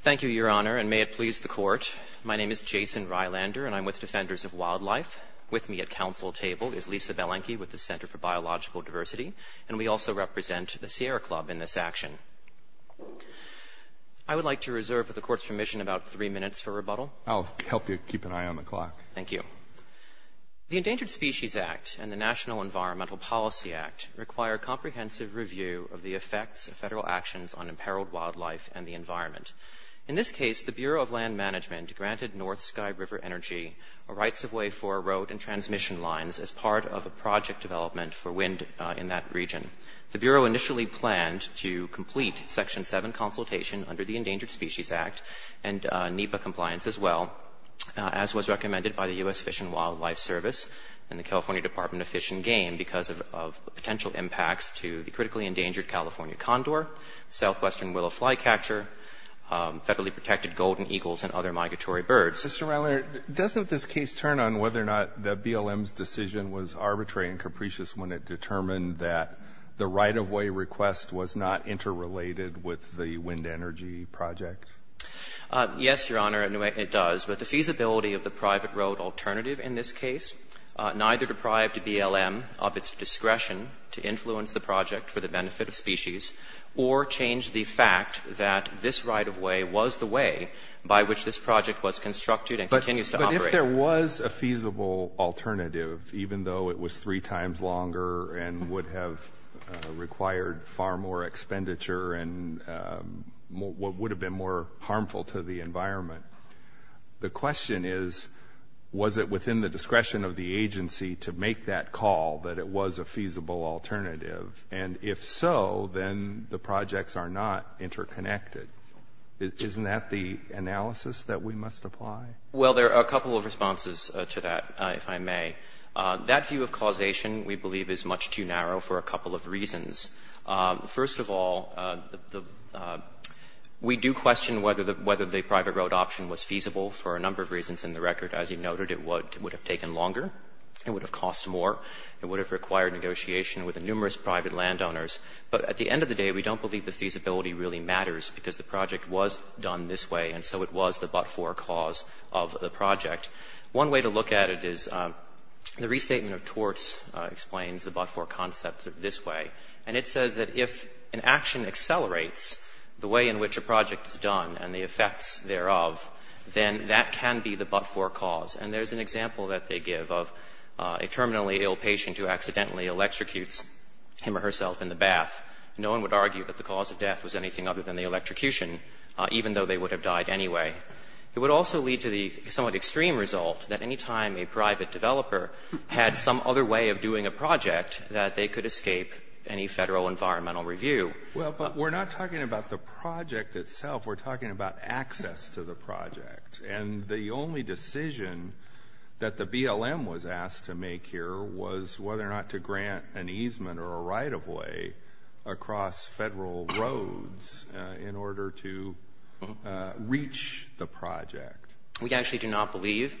Thank you, Your Honor, and may it please the Court, my name is Jason Rylander and I'm with Defenders of Wildlife. With me at council table is Lisa Belenky with the Center for Biological Diversity, and we also represent the Sierra Club in this action. I would like to reserve, with the Court's permission, about three minutes for rebuttal. I'll help you keep an eye on the clock. Thank you. The Endangered Species Act and the National Environmental Policy Act require comprehensive review of the effects of federal actions on imperiled wildlife and the environment. In this case, the Bureau of Land Management granted North Sky River Energy a rights-of-way for road and transmission lines as part of a project development for wind in that region. The Bureau initially planned to complete Section 7 consultation under the Endangered Species Act and NEPA compliance as well, as was recommended by the U.S. Fish and Wildlife Service and the California Department of Fish and Game because of potential impacts to the critically endangered California condor, southwestern willow flycatcher, federally protected golden eagles and other migratory birds. Mr. Rylander, doesn't this case turn on whether or not the BLM's decision was arbitrary and capricious when it determined that the right-of-way request was not interrelated with the wind energy project? Yes, Your Honor, it does. But the feasibility of the private road alternative in this case neither deprived BLM of its discretion to influence the project for the benefit of species or change the fact that this right-of-way was the way by which this project was constructed and continues to operate. But if there was a feasible alternative, even though it was three times longer and would have required far more expenditure and would have been more harmful to the environment, the question is, was it within the discretion of the agency to make that call that it was a feasible alternative? And if so, then the projects are not interconnected. Isn't that the analysis that we must apply? Well, there are a couple of responses to that, if I may. That view of causation, we believe, is much too narrow for a couple of reasons. First of all, we do question whether the private road option was feasible for a number of reasons in the record. As you noted, it would have taken longer. It would have cost more. It would have required negotiation with numerous private landowners. But at the end of the day, we don't believe the feasibility really matters because the project was done this way, and so it was the but-for cause of the project. One way to look at it is the Restatement of Torts explains the but-for concept this way. And it says that if an action accelerates the way in which a project is done and the effects thereof, then that can be the but-for cause. And there's an example that they give of a terminally ill patient who accidentally electrocutes him or herself in the bath. No one would argue that the cause of death was anything other than the electrocution, even though they would have died anyway. It would also lead to the somewhat extreme result that any time a private developer had some other way of doing a project, that they could escape any federal environmental review. Well, but we're not talking about the project itself. We're talking about access to the project. And the only decision that the BLM was asked to make here was whether or not to grant an easement or a right-of-way across federal roads in order to reach the project. We actually do not believe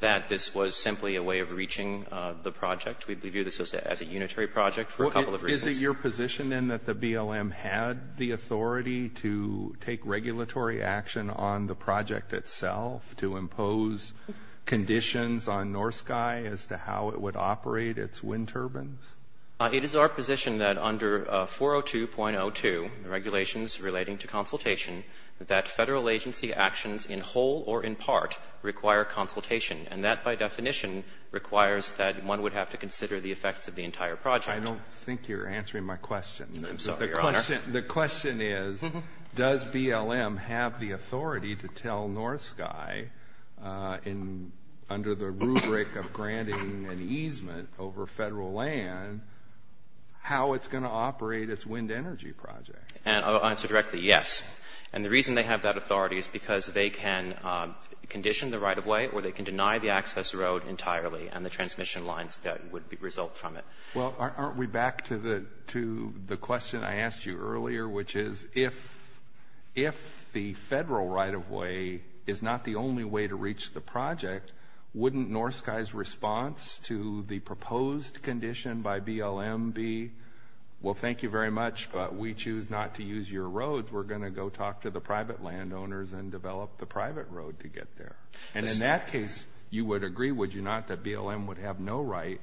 that this was simply a way of reaching the project. We view this as a unitary project for a couple of reasons. Is it your position, then, that the BLM had the authority to take regulatory action on the project itself, to impose conditions on NorSky as to how it would operate its wind turbines? It is our position that under 402.02, the regulations relating to consultation, that federal agency actions in whole or in part require consultation. And that, by definition, requires that one would have to consider the effects of the entire project. I don't think you're answering my question. I'm sorry, Your Honor. The question is, does BLM have the authority to tell NorSky, under the rubric of granting an easement over federal land, how it's going to operate its wind energy project? I'll answer directly, yes. And the reason they have that authority is because they can condition the right-of-way or they can deny the access road entirely and the transmission lines that would result from it. Well, aren't we back to the question I asked you earlier, which is, if the federal right-of-way is not the only way to reach the project, wouldn't NorSky's response to the proposed condition by BLM be, well, thank you very much, but we choose not to use your roads, we're going to go talk to the private landowners and develop the private road to get there? And in that case, you would agree, would you not, that BLM would have no right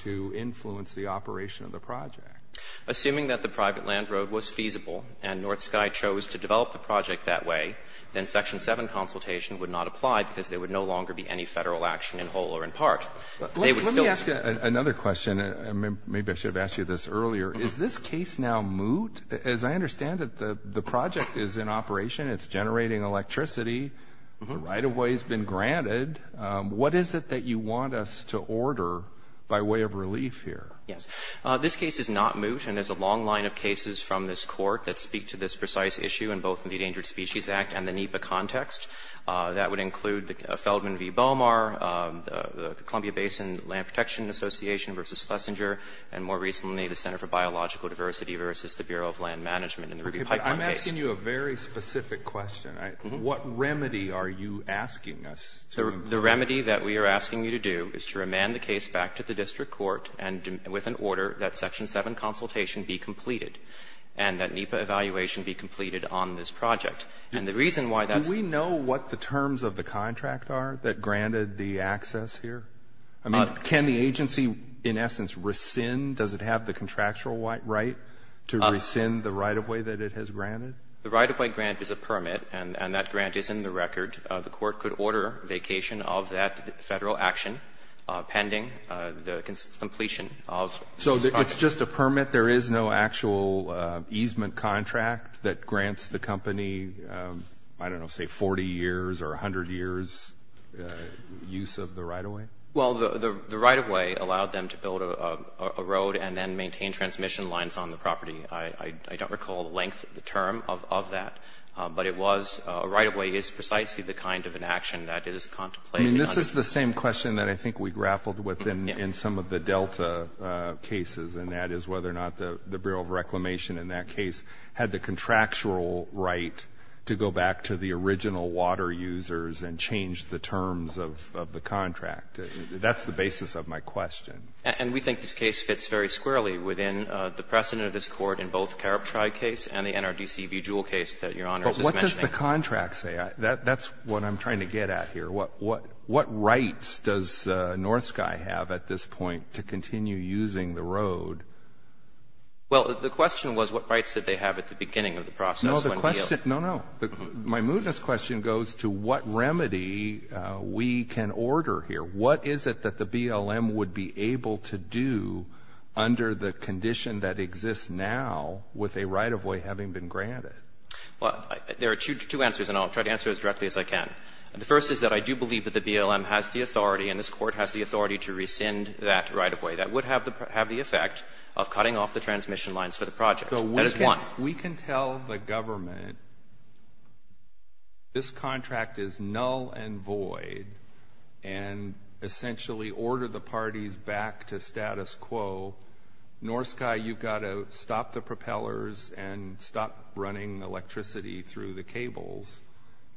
to influence the operation of the project? Assuming that the private land road was feasible and NorSky chose to develop the project that way, then Section 7 consultation would not apply because there would no longer be any Federal action in whole or in part. They would still be able to do that. Let me ask you another question, and maybe I should have asked you this earlier. Is this case now moot? As I understand it, the project is in operation. It's generating electricity. The right-of-way has been granted. What is it that you want us to order by way of relief here? Yes. This case is not moot, and there's a long line of cases from this Court that speak to this precise issue in both the Endangered Species Act and the NEPA context. That would include Feldman v. Bomar, the Columbia Basin Land Protection Association v. Schlesinger, and more recently, the Center for Biological Diversity v. the Bureau of Land Management in the Ruby Pipeline case. Okay. But I'm asking you a very specific question. What remedy are you asking us to do? The remedy that we are asking you to do is to remand the case back to the district court and with an order that Section 7 consultation be completed and that NEPA evaluation be completed on this project. And the reason why that's the case is that the NEPA has a right of way that is a permit, and that grant is in the record. Can the agency, in essence, rescind? Does it have the contractual right to rescind the right-of-way that it has granted? The right-of-way grant is a permit, and that grant is in the record. The Court could order vacation of that Federal action pending the completion of the contract. So it's just a permit? There is no actual easement contract that grants the company, I don't know, say, 40 years or 100 years' use of the right-of-way? Well, the right-of-way allowed them to build a road and then maintain transmission lines on the property. I don't recall the length of the term of that, but it was — a right-of-way is precisely the kind of an action that is contemplated on the property. The question that I think we grappled with in some of the Delta cases, and that is whether or not the Bureau of Reclamation in that case had the contractual right to go back to the original water users and change the terms of the contract. That's the basis of my question. And we think this case fits very squarely within the precedent of this Court in both Carobtri case and the NRDC v. Jewell case that Your Honor is just mentioning. But what does the contract say? That's what I'm trying to get at here. What rights does NorthSky have at this point to continue using the road? Well, the question was what rights did they have at the beginning of the process when they yielded. No, no. My mootness question goes to what remedy we can order here. What is it that the BLM would be able to do under the condition that exists now with a right-of-way having been granted? Well, there are two answers, and I'll try to answer as directly as I can. The first is that I do believe that the BLM has the authority and this Court has the authority to rescind that right-of-way. That would have the effect of cutting off the transmission lines for the project. That is one. So we can tell the government this contract is null and void and essentially order the parties back to status quo, NorthSky, you've got to stop the propellers and stop running electricity through the cables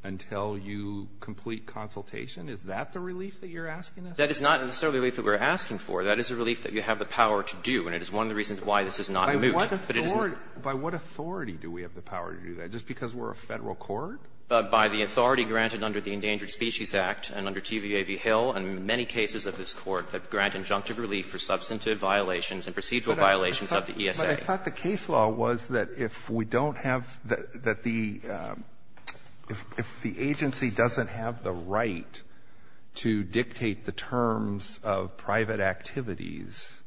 until you complete consultation. Is that the relief that you're asking us? That is not necessarily the relief that we're asking for. That is a relief that you have the power to do, and it is one of the reasons why this is not moot, but it is not. By what authority do we have the power to do that? Just because we're a Federal court? By the authority granted under the Endangered Species Act and under TVA v. Hill and many cases of this Court that grant injunctive relief for substantive violations and procedural violations of the ESA. But I thought the case law was that if we don't have the, that the, if the agency doesn't have the right to dictate the terms of private activities,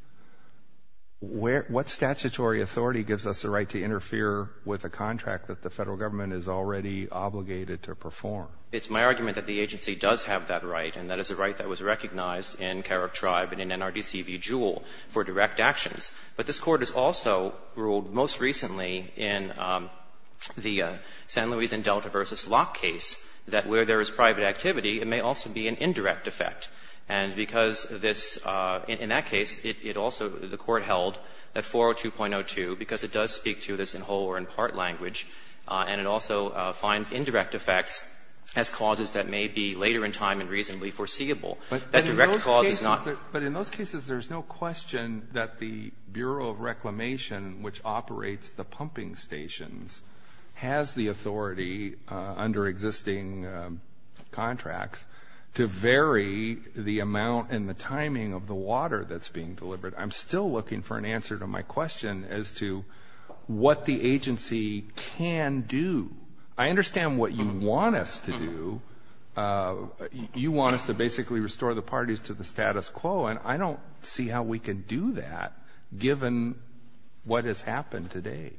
where, what statutory authority gives us the right to interfere with a contract that the Federal government is already obligated to perform? It's my argument that the agency does have that right, and that is a right that was recognized in Carrick Tribe and in NRDC v. Jewell for direct actions. But this Court has also ruled most recently in the San Luis and Delta v. Locke case that where there is private activity, it may also be an indirect effect. And because this, in that case, it also, the Court held that 402.02, because it does speak to this in whole or in part language, and it also finds indirect effects as causes that may be later in time and reasonably foreseeable. That direct cause is not the case. The Bureau of Reclamation, which operates the pumping stations, has the authority under existing contracts to vary the amount and the timing of the water that's being delivered. I'm still looking for an answer to my question as to what the agency can do. I understand what you want us to do. You want us to basically restore the parties to the status quo, and I don't see how we can do that given what has happened to date.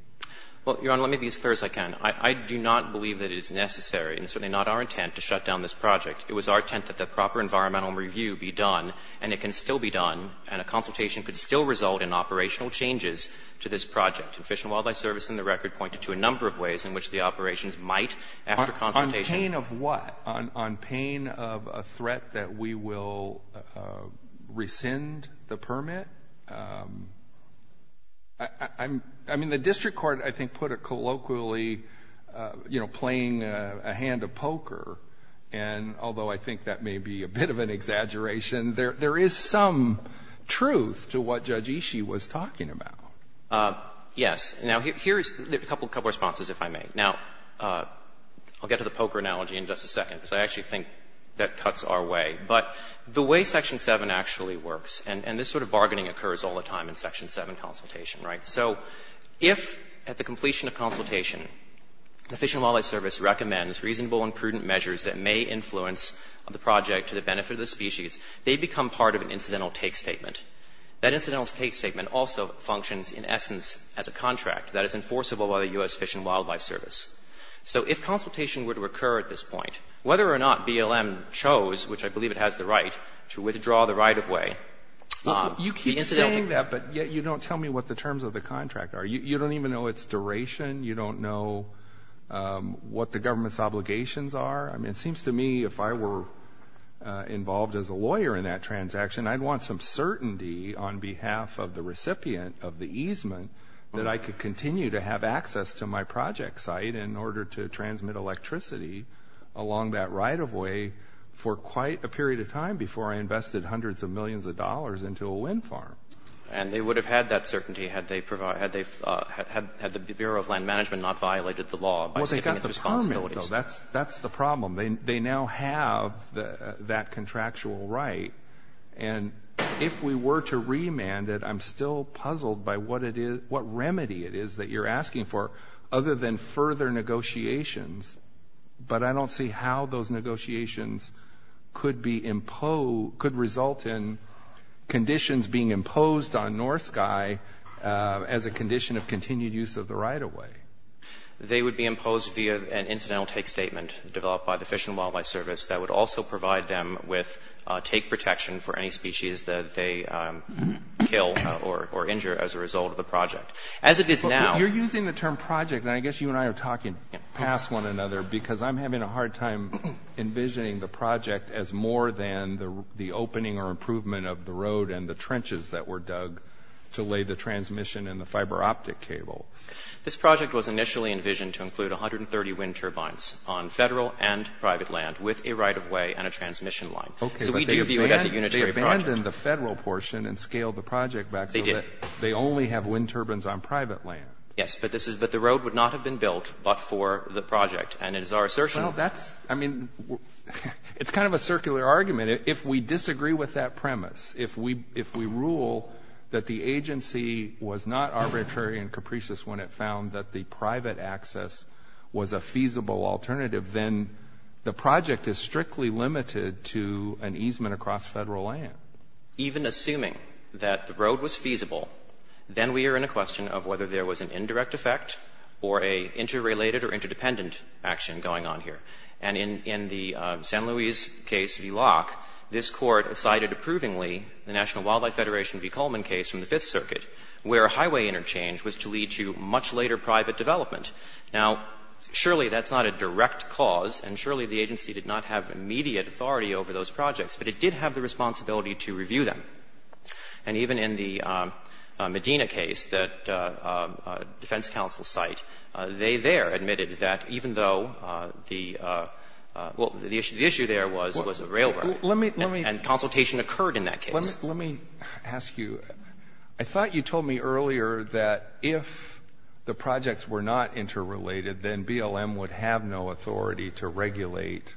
Well, Your Honor, let me be as clear as I can. I do not believe that it is necessary, and certainly not our intent, to shut down this project. It was our intent that the proper environmental review be done, and it can still be done, and a consultation could still result in operational changes to this project. And Fish and Wildlife Service in the record pointed to a number of ways in which the operations might, after consultation On pain of what? On pain of a threat that we will rescind the permit. I'm — I mean, the district court, I think, put it colloquially, you know, playing a hand of poker, and although I think that may be a bit of an exaggeration, there is some truth to what Judge Ishii was talking about. Yes. Now, here's a couple of responses, if I may. Now, I'll get to the poker analogy in just a second, because I actually think that cuts our way. But the way Section 7 actually works, and this sort of bargaining occurs all the time in Section 7 consultation, right? So if, at the completion of consultation, the Fish and Wildlife Service recommends reasonable and prudent measures that may influence the project to the benefit of the species, they become part of an incidental take statement. That incidental take statement also functions, in essence, as a contract that is enforceable by the U.S. Fish and Wildlife Service. So if consultation were to occur at this point, whether or not BLM chose, which I believe it has the right, to withdraw the right-of-way, the incidental— You keep saying that, but yet you don't tell me what the terms of the contract are. You don't even know its duration. You don't know what the government's obligations are. I mean, it seems to me if I were involved as a lawyer in that transaction, I'd want some certainty on behalf of the recipient of the easement that I could continue to have access to my project site in order to transmit electricity along that right-of-way for quite a period of time before I invested hundreds of millions of dollars into a wind farm. And they would have had that certainty had the Bureau of Land Management not violated the law by skipping its responsibilities. Well, they got the permit, though. That's the problem. They now have that contractual right. And if we were to remand it, I'm still puzzled by what remedy it is that you're asking for other than further negotiations. But I don't see how those negotiations could result in conditions being imposed on North Sky as a condition of continued use of the right-of-way. They would be imposed via an incidental take statement developed by the Fish and Wildlife Service that would also provide them with take protection for any species that they kill or injure as a result of the project. As it is now... You're using the term project, and I guess you and I are talking past one another because I'm having a hard time envisioning the project as more than the opening or improvement of the road and the trenches that were dug to lay the transmission and the fiber optic cable. This project was initially envisioned to include 130 wind turbines on Federal and private land with a right-of-way and a transmission line. Okay. So we do view it as a unitary project. But they abandoned the Federal portion and scaled the project back so that they only have wind turbines on private land. Yes, but the road would not have been built but for the project, and it is our assertion. Well, that's – I mean, it's kind of a circular argument. If we disagree with that premise, if we rule that the agency was not arbitrary and capricious when it found that the private access was a feasible alternative, then the project is strictly limited to an easement across Federal land. Even assuming that the road was feasible, then we are in a question of whether there was an indirect effect or a interrelated or interdependent action going on here. And in the San Luis case, VLOC, this Court cited approvingly the National Wildlife Federation B. Cullman case from the Fifth Circuit where highway interchange was to lead to much later private development. Now, surely that's not a direct cause, and surely the agency did not have immediate authority over those projects, but it did have the responsibility to review them. And even in the Medina case that defense counsel cite, they there admitted that even though the – well, the issue there was a railroad. And consultation occurred in that case. Alito, let me ask you, I thought you told me earlier that if the projects were not interrelated, then BLM would have no authority to regulate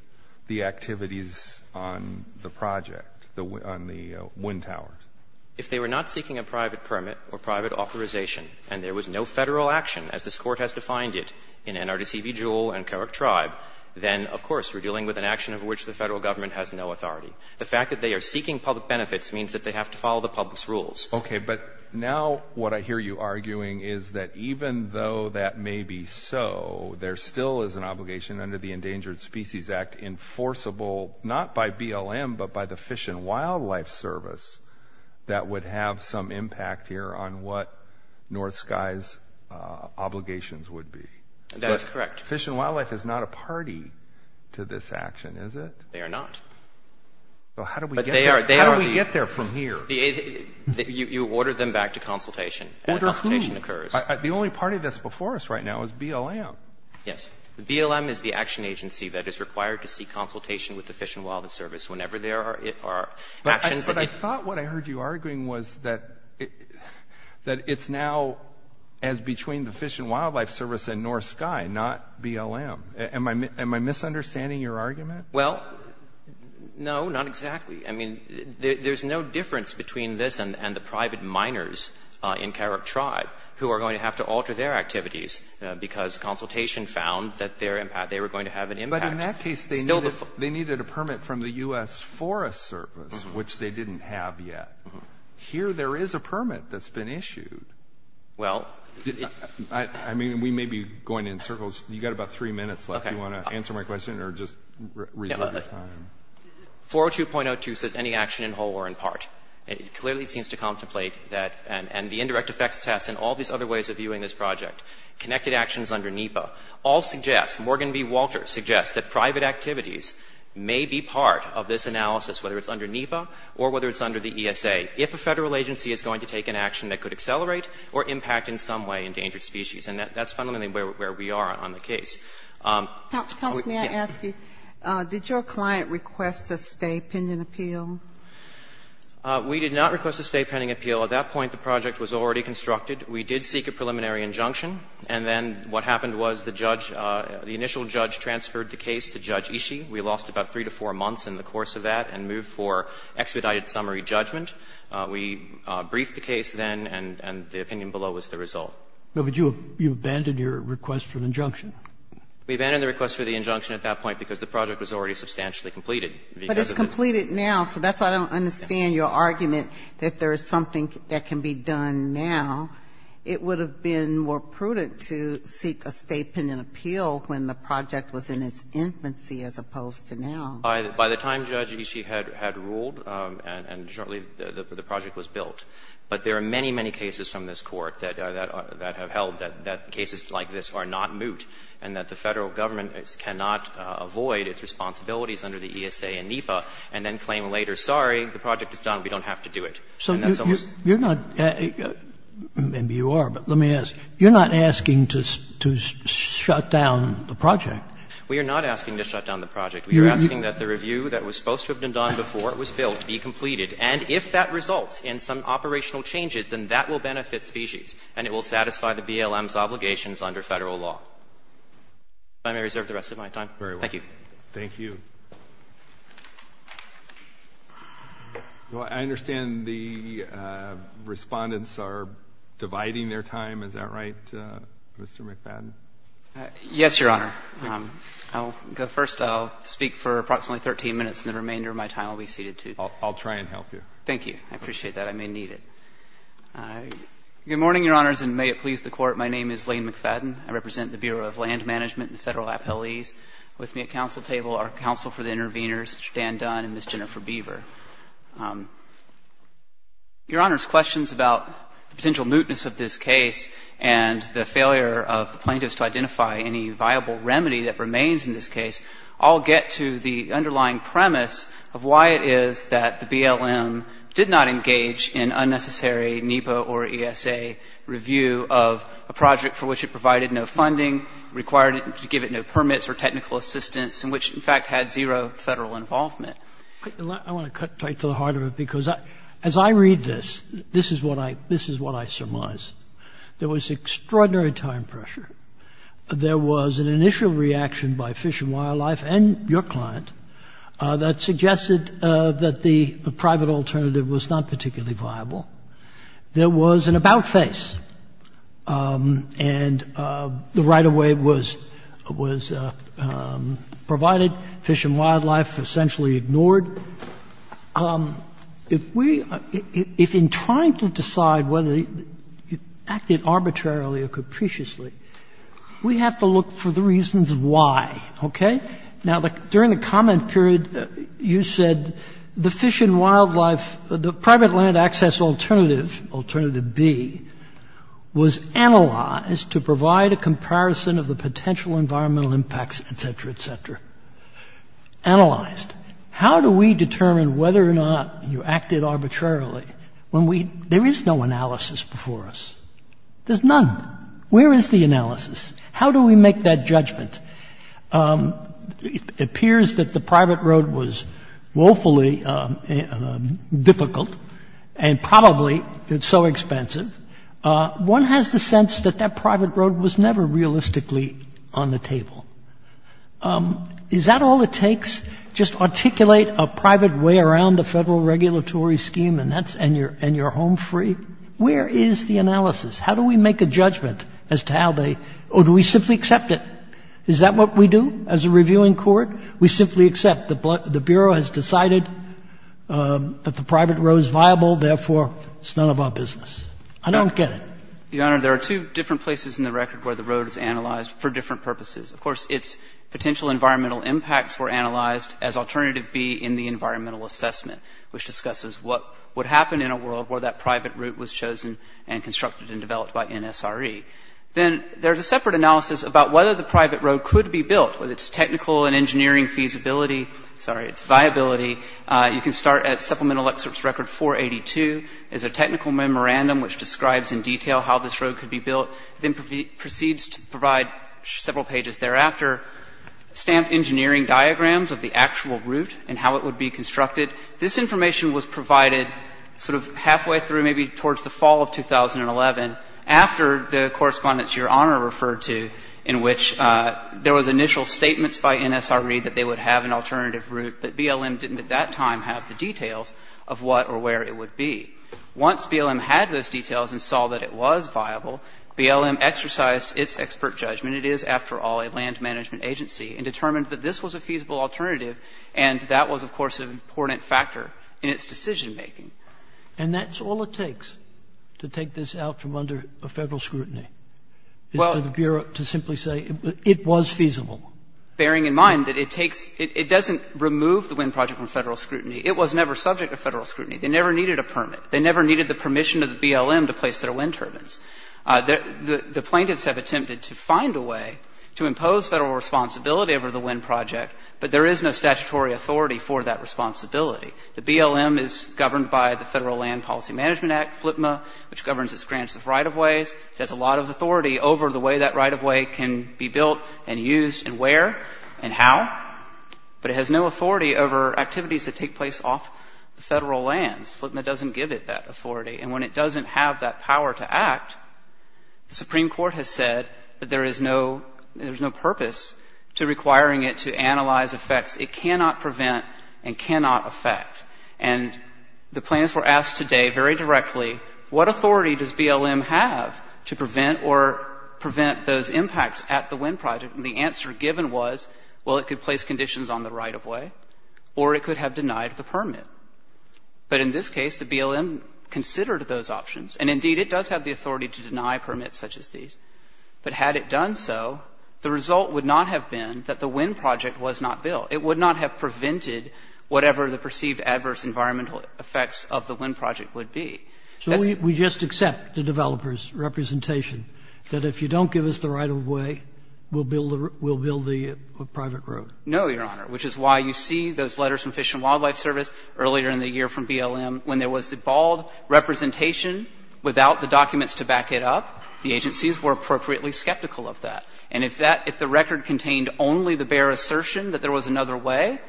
the activities on the project, on the wind towers. If they were not seeking a private permit or private authorization and there was no Federal action, as this Court has defined it in NRDC v. Jewell and Carrick Tribe, then, of course, we're dealing with an action of which the Federal government has no authority. The fact that they are seeking public benefits means that they have to follow the public's rules. Okay, but now what I hear you arguing is that even though that may be so, there still is an obligation under the Endangered Species Act enforceable not by BLM but by the Fish and Wildlife Service that would have some impact here on what North Sky's obligations would be. That is correct. But Fish and Wildlife is not a party to this action, is it? They are not. Well, how do we get there from here? You order them back to consultation, and a consultation occurs. The only party that's before us right now is BLM. Yes. BLM is the action agency that is required to seek consultation with the Fish and Wildlife Service whenever there are actions that it But I thought what I heard you arguing was that it's now as between the Fish and Wildlife Service and North Sky, not BLM. Am I misunderstanding your argument? Well, no, not exactly. I mean, there's no difference between this and the private miners in Carrick Tribe who are going to have to alter their activities because consultation found that they were going to have an impact. But in that case, they needed a permit from the U.S. Forest Service, which they didn't have yet. Here there is a permit that's been issued. Well, I mean, we may be going in circles. You got about three minutes left. Okay. Do you want to answer my question or just reserve your time? 402.02 says any action in whole or in part, and it clearly seems to contemplate that. And the indirect effects test and all these other ways of viewing this project, connected actions under NEPA, all suggest, Morgan B. Walter suggests, that private activities may be part of this analysis, whether it's under NEPA or whether it's under the ESA, if a federal agency is going to take an action that could accelerate or impact in some way endangered species. And that's fundamentally where we are on the case. Sotomayor, may I ask you, did your client request a stay pending appeal? We did not request a stay pending appeal. At that point, the project was already constructed. We did seek a preliminary injunction, and then what happened was the judge, the initial judge transferred the case to Judge Ishii. We lost about three to four months in the course of that and moved for expedited summary judgment. We briefed the case then, and the opinion below was the result. But you abandoned your request for an injunction. We abandoned the request for the injunction at that point because the project was already substantially completed. But it's completed now, so that's why I don't understand your argument that there is something that can be done now. It would have been more prudent to seek a stay pending appeal when the project was in its infancy as opposed to now. By the time Judge Ishii had ruled and shortly the project was built. But there are many, many cases from this Court that have held that cases like this are not moot and that the Federal Government cannot avoid its responsibilities under the ESA and NEPA and then claim later, sorry, the project is done, we don't have to do it. And that's almost. You're not, maybe you are, but let me ask, you're not asking to shut down the project. We are not asking to shut down the project. We are asking that the review that was supposed to have been done before it was built be completed. And if that results in some operational changes, then that will benefit species and it will satisfy the BLM's obligations under Federal law. If I may reserve the rest of my time. Thank you. Thank you. Well, I understand the Respondents are dividing their time. Is that right, Mr. McFadden? Yes, Your Honor. I'll go first. I'll speak for approximately 13 minutes and the remainder of my time I'll be seated to. I'll try and help you. Thank you. I appreciate that. I may need it. Good morning, Your Honors, and may it please the Court. My name is Lane McFadden. I represent the Bureau of Land Management and the Federal Appellees. With me at the council table are counsel for the interveners, Mr. Dan Dunn and Ms. Jennifer Beaver. Your Honor's questions about the potential mootness of this case and the failure of the plaintiffs to identify any viable remedy that remains in this case all get to the underlying premise of why it is that the BLM did not engage in unnecessary NEPA or ESA review of a project for which it provided no funding, required to give it no permits or technical assistance, and which in fact had zero Federal involvement. I want to cut tight to the heart of it, because as I read this, this is what I surmise. There was extraordinary time pressure. There was an initial reaction by Fish and Wildlife and your client that suggested that the private alternative was not particularly viable. There was an about-face, and the right-of-way was provided. Fish and Wildlife essentially ignored. If we — if in trying to decide whether it acted arbitrarily or capriciously, we have to look for the reasons why. Okay? Now, during the comment period, you said the Fish and Wildlife — the private land access alternative, alternative B, was analyzed to provide a comparison of the potential environmental impacts, et cetera, et cetera. Analyzed. How do we determine whether or not you acted arbitrarily when we — there is no analysis before us. There's none. Where is the analysis? How do we make that judgment? It appears that the private road was woefully difficult and probably so expensive. One has the sense that that private road was never realistically on the table. Is that all it takes, just articulate a private way around the Federal regulatory scheme and that's — and you're home free? Where is the analysis? How do we make a judgment as to how they — or do we simply accept it? Is that what we do as a reviewing court? We simply accept that the Bureau has decided that the private road is viable, therefore it's none of our business. I don't get it. The Honor, there are two different places in the record where the road is analyzed for different purposes. Of course, its potential environmental impacts were analyzed as alternative B in the environmental assessment, which discusses what would happen in a world where that private route was chosen and constructed and developed by NSRE. Then there's a separate analysis about whether the private road could be built, whether it's technical and engineering feasibility — sorry, it's viability. You can start at Supplemental Excerpts Record 482. It's a technical memorandum which describes in detail how this road could be built, then proceeds to provide several pages thereafter, stamped engineering diagrams of the actual route and how it would be constructed. This information was provided sort of halfway through maybe towards the fall of 2011 after the correspondence Your Honor referred to in which there was initial statements by NSRE that they would have an alternative route, but BLM didn't at that time have the details of what or where it would be. Once BLM had those details and saw that it was viable, BLM exercised its expert judgment. It is, after all, a land management agency, and determined that this was a feasible alternative, and that was, of course, an important factor in its decision-making. And that's all it takes to take this out from under a Federal scrutiny, is for the Bureau to simply say it was feasible. Bearing in mind that it takes — it doesn't remove the wind project from Federal scrutiny. It was never subject to Federal scrutiny. They never needed a permit. They never needed the permission of the BLM to place their wind turbines. The plaintiffs have attempted to find a way to impose Federal responsibility over the wind project, but there is no statutory authority for that responsibility. The BLM is governed by the Federal Land Policy Management Act, FLPMA, which governs its grants of right-of-ways. It has a lot of authority over the way that right-of-way can be built and used and where and how, but it has no authority over activities that take place off the Federal lands. FLPMA doesn't give it that authority. And when it doesn't have that power to act, the Supreme Court has said that there is no — there's no purpose to requiring it to analyze effects. It cannot prevent and cannot affect. And the plaintiffs were asked today very directly, what authority does BLM have to prevent or prevent those impacts at the wind project? And the answer given was, well, it could place conditions on the right-of-way or it could have denied the permit. But in this case, the BLM considered those options. And indeed, it does have the authority to deny permits such as these. But had it done so, the result would not have been that the wind project was not built. It would not have prevented whatever the perceived adverse environmental effects of the wind project would be. That's the point. Sotomayor So we just accept the developer's representation that if you don't give us the right-of-way, we'll build the private road? No, Your Honor, which is why you see those letters from Fish and Wildlife Service earlier in the year from BLM when there was the bald representation without the documents to back it up, the agencies were appropriately skeptical of that. And if that – if the record contained only the bare assertion that there was another way,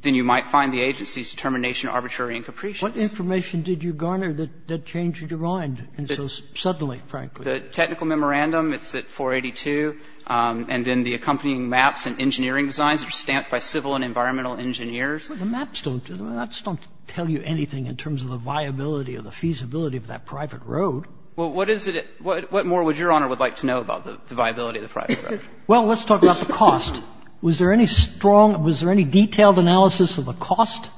then you might find the agency's determination arbitrary and capricious. What information did you garner that changed your mind so suddenly, frankly? The technical memorandum, it's at 482, and then the accompanying maps and engineering designs are stamped by civil and environmental engineers. But the maps don't tell you anything in terms of the viability or the feasibility of that private road. Well, what is it – what more would Your Honor would like to know about the viability of the private road? Well, let's talk about the cost. Was there any strong – was there any detailed analysis of the cost?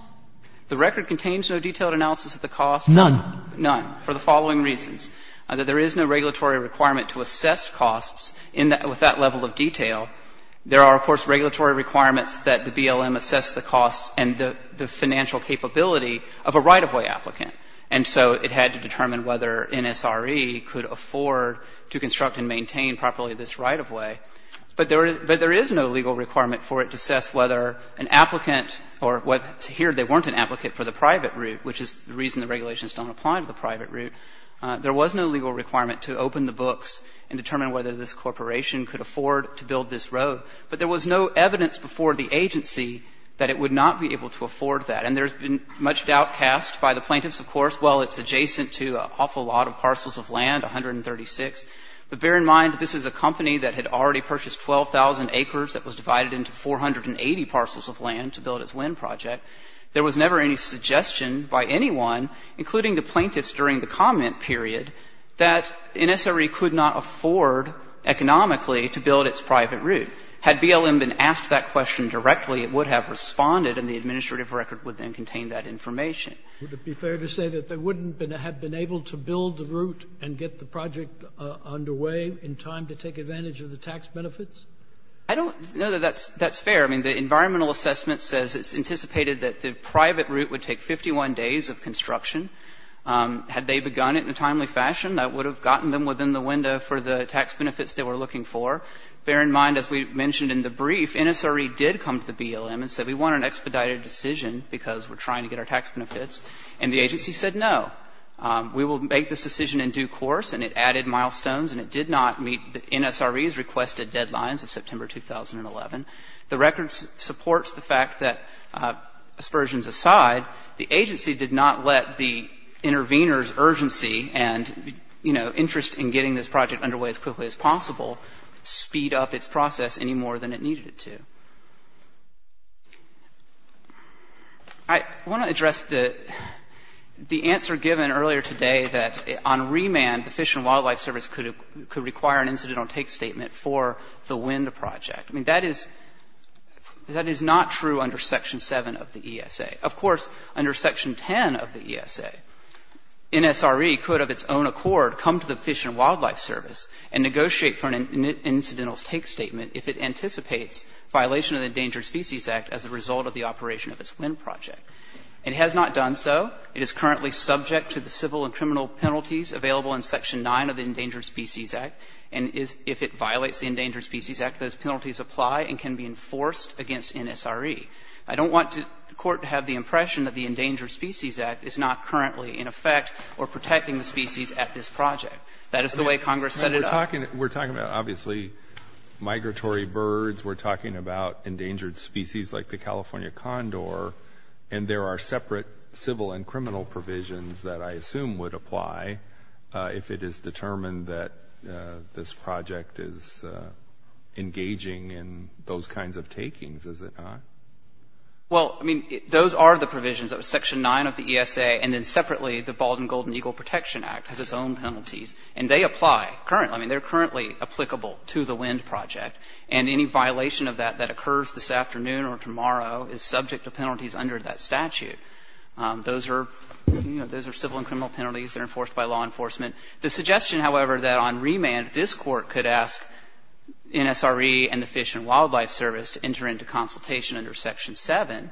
The record contains no detailed analysis of the cost. None. None, for the following reasons. There is no regulatory requirement to assess costs in that – with that level of detail. There are, of course, regulatory requirements that the BLM assess the costs and the financial capability of a right-of-way applicant. And so it had to determine whether NSRE could afford to construct and maintain properly this right-of-way. But there is no legal requirement for it to assess whether an applicant or what – here they weren't an applicant for the private route, which is the reason the regulations don't apply to the private route. There was no legal requirement to open the books and determine whether this corporation could afford to build this road. But there was no evidence before the agency that it would not be able to afford that. And there has been much doubt cast by the plaintiffs, of course, well, it's adjacent to an awful lot of parcels of land, 136. But bear in mind that this is a company that had already purchased 12,000 acres that was divided into 480 parcels of land to build its wind project. There was never any suggestion by anyone, including the plaintiffs during the comment period, that NSRE could not afford economically to build its private route. Had BLM been asked that question directly, it would have responded and the administrative record would then contain that information. Sotomayor, would it be fair to say that they wouldn't have been able to build the route and get the project underway in time to take advantage of the tax benefits? I don't know that that's fair. I mean, the environmental assessment says it's anticipated that the private route would take 51 days of construction. Had they begun it in a timely fashion, that would have gotten them within the window for the tax benefits they were looking for. Bear in mind, as we mentioned in the brief, NSRE did come to the BLM and said we want an expedited decision because we're trying to get our tax benefits, and the agency said no. We will make this decision in due course, and it added milestones, and it did not meet NSRE's requested deadlines of September 2011. The record supports the fact that, aspersions aside, the agency did not let the intervener's urgency and, you know, interest in getting this project underway as quickly as possible speed up its process any more than it needed it to. I want to address the answer given earlier today that on remand, the Fish and Wildlife Service could require an incidental take statement for the wind project. I mean, that is not true under Section 7 of the ESA. Of course, under Section 10 of the ESA, NSRE could of its own accord come to the Fish and Wildlife Service and negotiate for an incidental take statement if it anticipates violation of the Endangered Species Act as a result of the operation of this wind project. It has not done so. It is currently subject to the civil and criminal penalties available in Section 9 of the Endangered Species Act, and if it violates the Endangered Species Act, those penalties apply and can be enforced against NSRE. I don't want the Court to have the impression that the Endangered Species Act is not currently in effect or protecting the species at this project. That is the way Congress set it up. We're talking about, obviously, migratory birds. We're talking about endangered species like the California condor. And there are separate civil and criminal provisions that I assume would apply if it is determined that this project is engaging in those kinds of takings, is it not? Well, I mean, those are the provisions of Section 9 of the ESA, and then separately the Bald and Golden Eagle Protection Act has its own penalties, and they apply currently. I mean, they're currently applicable to the wind project, and any violation of that that occurs this afternoon or tomorrow is subject to penalties under that statute. Those are, you know, those are civil and criminal penalties that are enforced by law enforcement. The suggestion, however, that on remand this Court could ask NSRE and the Fish and Wildlife Service to enter into consultation under Section 7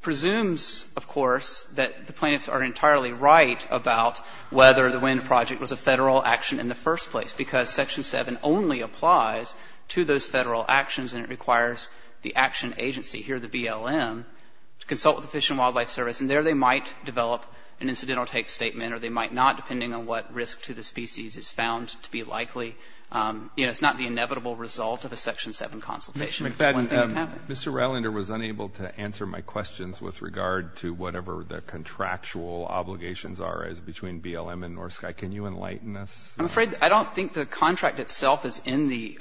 presumes, of course, that the plaintiffs are entirely right about whether the wind project was a Federal action in the first place, because Section 7 only applies to those Federal actions, and it requires the action agency here, the BLM, to consult with the Fish and Wildlife Service, and there they might develop an incidental take statement, or they might not, depending on what risk to the species is found to be likely. You know, it's not the inevitable result of a Section 7 consultation. It's one thing that happened. Mr. Rallender was unable to answer my questions with regard to whatever the contractual obligations are as between BLM and North Sky. Can you enlighten us? I'm afraid I don't think the contract itself is in the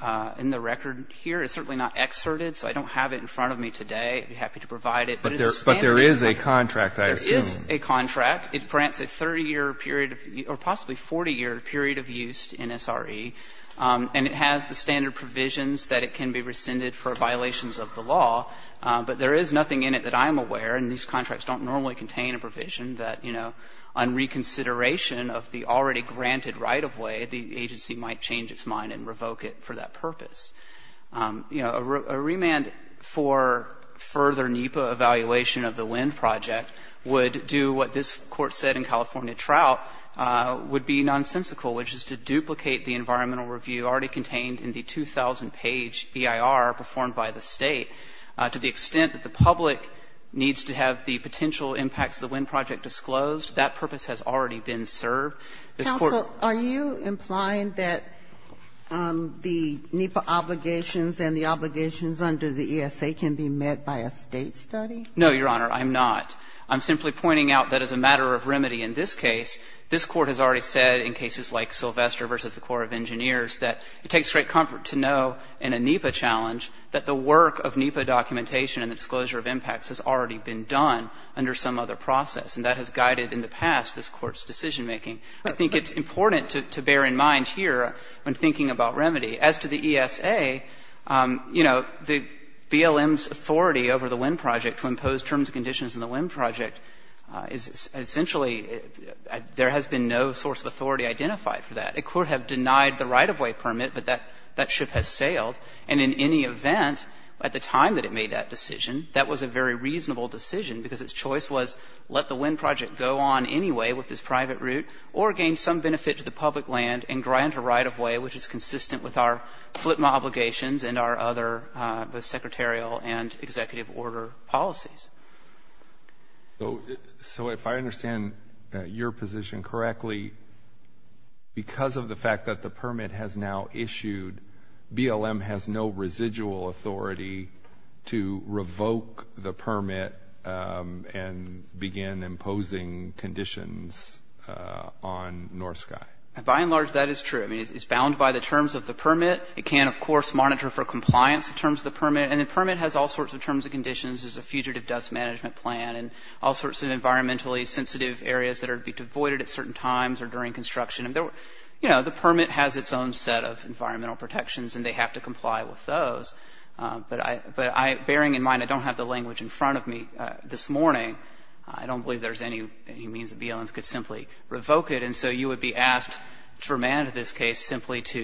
record here. It's certainly not excerpted, so I don't have it in front of me today. I'd be happy to provide it. But there is a contract, I assume. There is a contract. It grants a 30-year period of or possibly 40-year period of use to NSRE, and it has the standard provisions that it can be rescinded for violations of the law. But there is nothing in it that I am aware, and these contracts don't normally contain a provision that, you know, on reconsideration of the already granted right-of-way, the agency might change its mind and revoke it for that purpose. You know, a remand for further NEPA evaluation of the LEND project would do what this Court said in California Trout would be nonsensical, which is to duplicate the environmental review already contained in the 2,000-page EIR performed by the State to the extent that the public needs to have the potential impacts of the LEND project disclosed. That purpose has already been served. Ginsburg-Gillian, are you implying that the NEPA obligations and the obligations under the ESA can be met by a State study? No, Your Honor, I'm not. I'm simply pointing out that as a matter of remedy in this case, this Court has already said in cases like Sylvester v. the Corps of Engineers that it takes great comfort to know in a NEPA challenge that the work of NEPA documentation and the disclosure of impacts has already been done under some other process, and that has guided in the past this Court's decision-making. I think it's important to bear in mind here when thinking about remedy. As to the ESA, you know, the BLM's authority over the LEND project to impose terms and conditions in the LEND project is essentially there has been no source of authority identified for that. It could have denied the right-of-way permit, but that ship has sailed. And in any event, at the time that it made that decision, that was a very reasonable decision because its choice was let the LEND project go on anyway with this private route, or gain some benefit to the public land and grant a right-of-way which is consistent with our FLTMA obligations and our other both secretarial and executive order policies. So if I understand your position correctly, because of the fact that the permit has now issued, BLM has no residual authority to revoke the permit and begin imposing conditions on North Sky? By and large, that is true. I mean, it's bound by the terms of the permit. It can, of course, monitor for compliance in terms of the permit, and the permit has all sorts of terms and conditions. There's a fugitive dust management plan and all sorts of environmentally sensitive areas that would be devoided at certain times or during construction. You know, the permit has its own set of environmental protections, and they have to comply with those. But I, bearing in mind I don't have the language in front of me this morning, I don't believe there's any means that BLM could simply revoke it. And so you would be asked to remand this case simply to,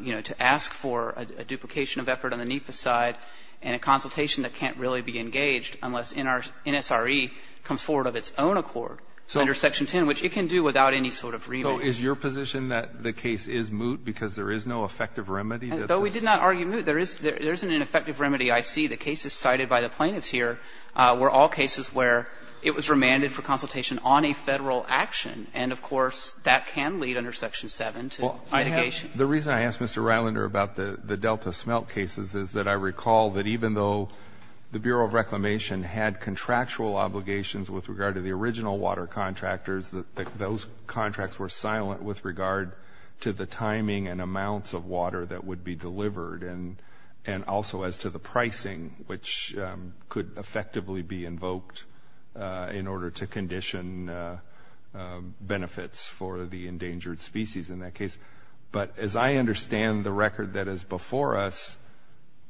you know, to ask for a duplication of effort on the NEPA side and a consultation that can't really be engaged unless NSRE comes forward with its own accord under Section 10, which it can do without any sort of remit. Is your position that the case is moot because there is no effective remedy? Though we did not argue moot, there isn't an effective remedy. I see the cases cited by the plaintiffs here were all cases where it was remanded for consultation on a Federal action, and, of course, that can lead under Section 7 to litigation. The reason I asked Mr. Rylander about the Delta smelt cases is that I recall that even though the Bureau of Reclamation had contractual obligations with regard to the timing and amounts of water that would be delivered, and also as to the pricing, which could effectively be invoked in order to condition benefits for the endangered species in that case, but as I understand the record that is before us,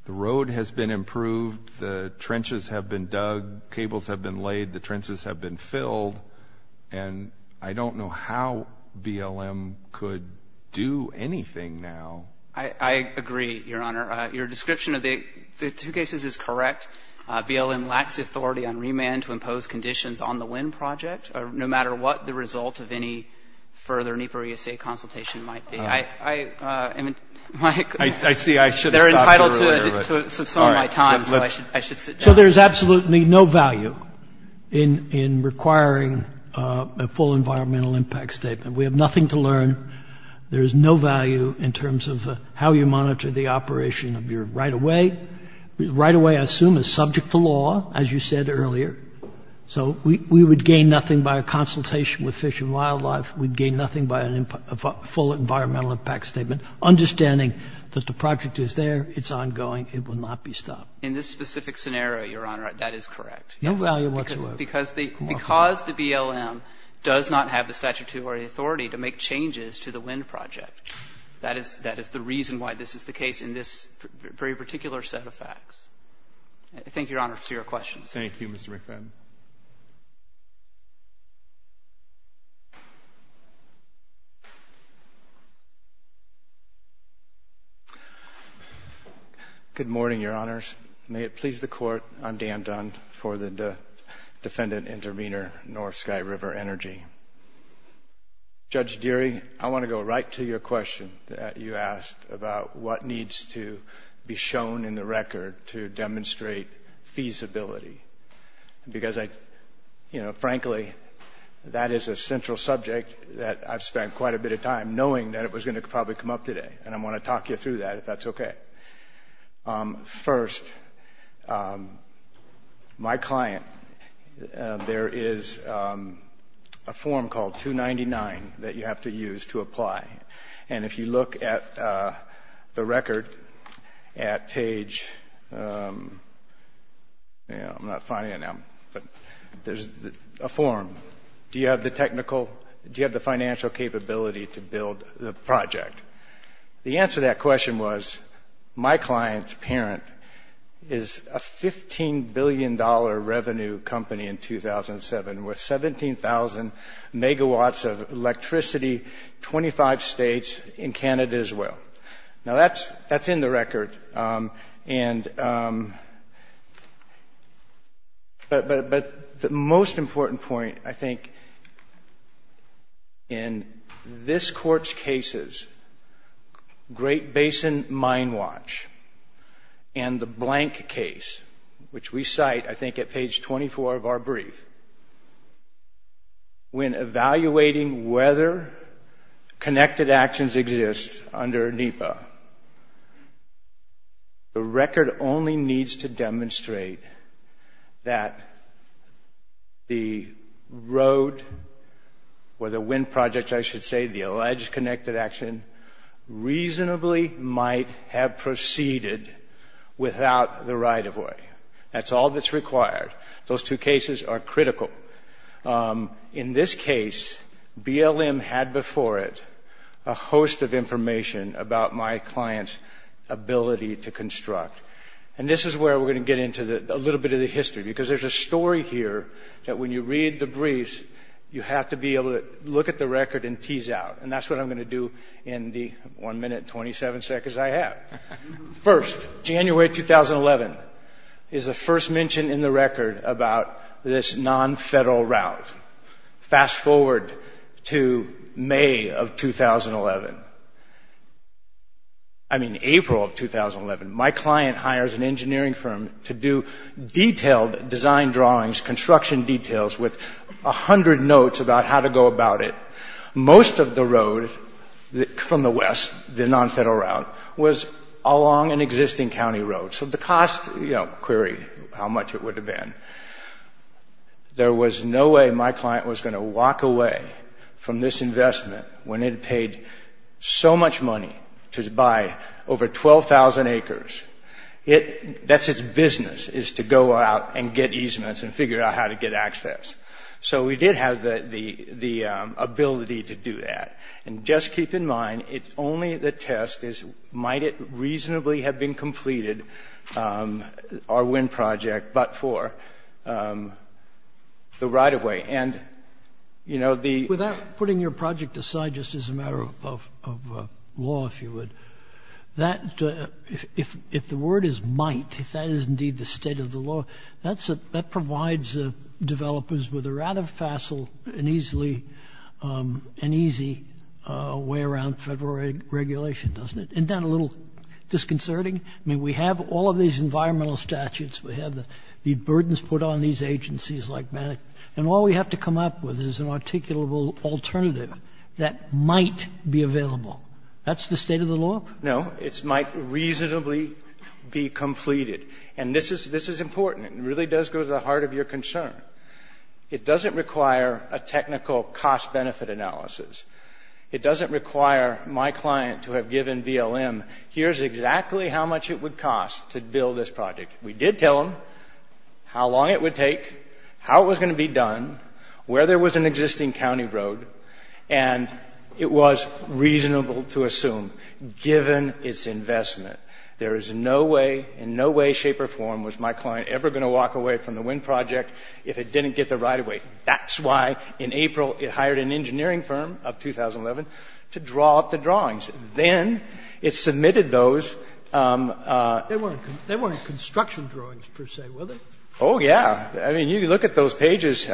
the road has been improved, the trenches have been dug, cables have been laid, the trenches have been I agree, Your Honor. Your description of the two cases is correct. BLM lacks authority on remand to impose conditions on the wind project, no matter what the result of any further NEPA or ESA consultation might be. I see I should have stopped you earlier, but sorry, I should sit down. So there is absolutely no value in requiring a full environmental impact statement. We have nothing to learn. There is no value in terms of how you monitor the operation of your right-of-way. Right-of-way, I assume, is subject to law, as you said earlier. So we would gain nothing by a consultation with Fish and Wildlife. We would gain nothing by a full environmental impact statement, understanding that the project is there, it's ongoing, it will not be stopped. In this specific scenario, Your Honor, that is correct. No value whatsoever. Because the BLM does not have the statutory authority to make changes to the wind project. That is the reason why this is the case in this very particular set of facts. Thank you, Your Honor, for your questions. Thank you, Mr. McFadden. Good morning, Your Honors. May it please the Court, I'm Dan Dunn. I'm for the Defendant Intervenor, North Sky River Energy. Judge Deary, I want to go right to your question that you asked about what needs to be shown in the record to demonstrate feasibility. Because, you know, frankly, that is a central subject that I've spent quite a bit of time knowing that it was going to probably come up today. And I want to talk you through that, if that's okay. First, my client, there is a form called 299 that you have to use to apply. And if you look at the record at page, I'm not finding it now, but there's a form. Do you have the technical, do you have the financial capability to build the project? The answer to that question was, my client's parent is a $15 billion revenue company in 2007 with 17,000 megawatts of electricity, 25 states, in Canada as well. Now, that's in the record. But the most important point, I think, in this Court's cases, Great Basin Mine Watch and the Blank case, which we cite, I think, at page 24 of our brief, when evaluating whether connected actions exist under NEPA, the record only needs to demonstrate that the road or the wind project, I should say, the alleged connected action, reasonably might have proceeded without the right of way. That's all that's required. Those two cases are critical. In this case, BLM had before it a host of information about my client's ability to construct. And this is where we're going to get into a little bit of the history, because there's a story here that when you read the briefs, you have to be able to look at the record and tease out. And that's what I'm going to do in the 1 minute, 27 seconds I have. First, January 2011 is the first mention in the record about this non-federal route. Fast forward to May of 2011, I mean, April of 2011, my client hires an engineering firm to do detailed design drawings, construction details, with a hundred notes about how to go about it. Most of the road from the west, the non-federal route, was along an existing county road. So the cost, you know, query how much it would have been. There was no way my client was going to walk away from this investment when it paid so much money to buy over 12,000 acres. It, that's its business, is to go out and get easements and figure out how to get access. So we did have the ability to do that. And just keep in mind, it's only the test is, might it reasonably have been completed, our wind project, but for the right-of-way. And, you know, the- Without putting your project aside just as a matter of law, if you would, that, if the word is might, if that is indeed the state of the law, that's a, that provides developers with a rather facile and easily, an easy way around federal regulation, doesn't it? Isn't that a little disconcerting? I mean, we have all of these environmental statutes. We have the burdens put on these agencies like that. And all we have to come up with is an articulable alternative that might be available. That's the state of the law? No. It might reasonably be completed. And this is, this is important. It really does go to the heart of your concern. It doesn't require a technical cost-benefit analysis. It doesn't require my client to have given BLM, here's exactly how much it would cost to build this project. We did tell them how long it would take, how it was going to be done, where there was an existing county road. And it was reasonable to assume, given its investment, there is no way, in no way, shape, or form was my client ever going to walk away from the wind project if it didn't get the right of way. That's why, in April, it hired an engineering firm of 2011 to draw up the drawings. Then it submitted those. They weren't construction drawings, per se, were they? Oh, yeah. I mean, you look at those pages.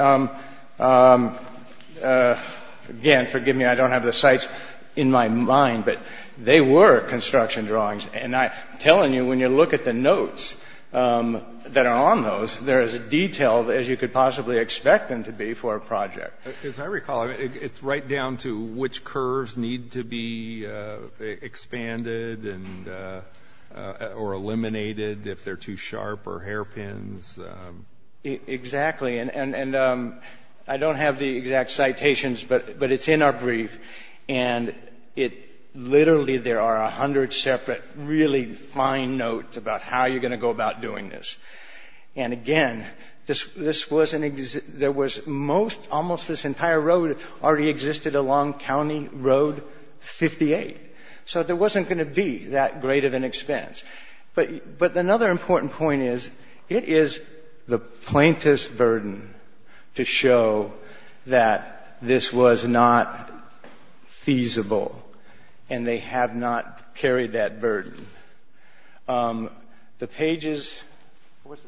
Again, forgive me, I don't have the sites in my mind, but they were construction drawings. And I'm telling you, when you look at the notes that are on those, they're as detailed as you could possibly expect them to be for a project. As I recall, it's right down to which curves need to be expanded and or eliminated if they're too sharp or hairpins. Exactly. And I don't have the exact citations, but it's in our brief. And it literally, there are 100 separate really fine notes about how you're going to go about doing this. And again, this was an ex- there was most, almost this entire road already existed along County Road 58. So there wasn't going to be that great of an expense. But another important point is, it is the plaintiff's burden to show that this was not feasible and they have not carried that burden. The pages, what's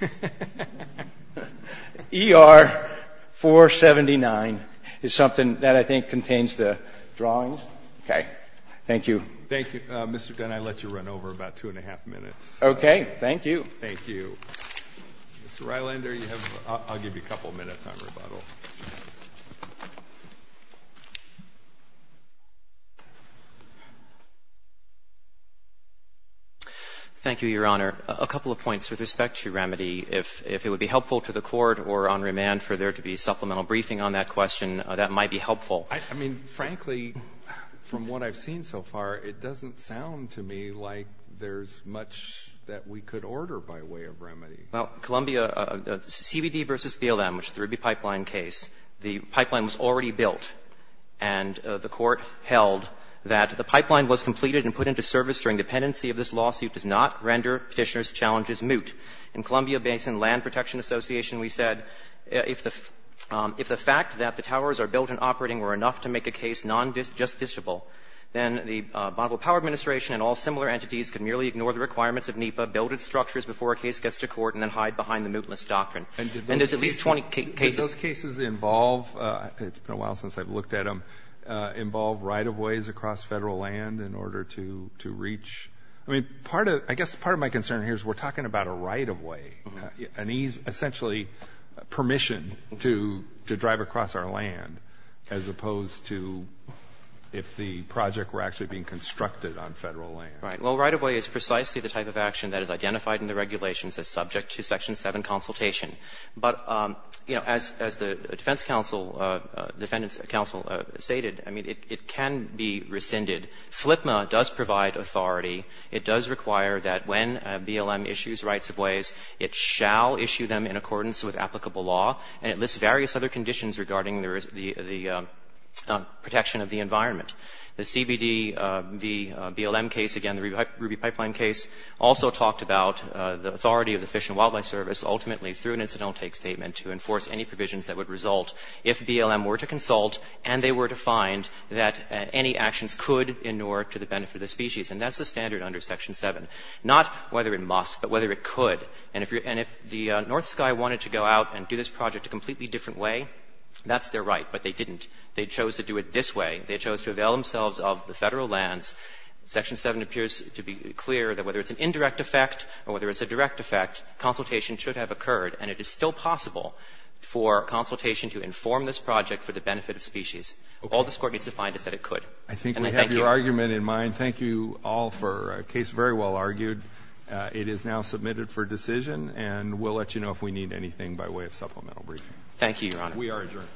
it say? ER 479 is something that I think contains the drawings. Okay. Thank you. Thank you. Mr. Gunn, I'll let you run over about two and a half minutes. Okay. Thank you. Thank you. Mr. Rylander, you have, I'll give you a couple minutes on rebuttal. Thank you, Your Honor. A couple of points with respect to remedy. If it would be helpful to the Court or on remand for there to be supplemental briefing on that question, that might be helpful. I mean, frankly, from what I've seen so far, it doesn't sound to me like there's much that we could order by way of remedy. Well, Columbia, CBD v. BLM, which is the Ruby Pipeline case, the pipeline was already built, and the Court held that the pipeline was completed and put into service during dependency of this lawsuit does not render Petitioner's challenges moot. In Columbia-Basin Land Protection Association, we said, if the fact that the towers are built and operating were enough to make a case non-justiciable, then the Bonneville Power Administration and all similar entities could merely ignore the requirements of NEPA, build its structures before a case gets to court, and then hide behind the mootless doctrine. And there's at least 20 cases. Does those cases involve – it's been a while since I've looked at them – involve right-of-ways across Federal land in order to reach? I mean, part of – I guess part of my concern here is we're talking about a right-of-way, an essentially permission to drive across our land, as opposed to if the project were actually being constructed on Federal land. Right. Well, right-of-way is precisely the type of action that is identified in the regulations as subject to section 7 consultation. But, you know, as the defense counsel, defendant's counsel stated, I mean, it can be rescinded. FLPMA does provide authority. It does require that when BLM issues rights-of-ways, it shall issue them in accordance with applicable law, and it lists various other conditions regarding the protection of the environment. The CBD, the BLM case, again, the Ruby Pipeline case, also talked about the authority of the Fish and Wildlife Service, ultimately, through an incidental take statement to enforce any provisions that would result if BLM were to consult and they were to find that any actions could inure to the benefit of the species. And that's the standard under section 7, not whether it must, but whether it could. And if you're – and if the North Sky wanted to go out and do this project a completely different way, that's their right, but they didn't. They chose to do it this way. They chose to avail themselves of the Federal lands. Section 7 appears to be clear that whether it's an indirect effect or whether it's a direct effect, consultation should have occurred, and it is still possible for consultation to inform this project for the benefit of species. All this Court needs to find is that it could. And I thank you. Breyer, I think we have your argument in mind. Thank you all for a case very well argued. It is now submitted for decision, and we'll let you know if we need anything by way of supplemental briefing. Thank you, Your Honor. We are adjourned.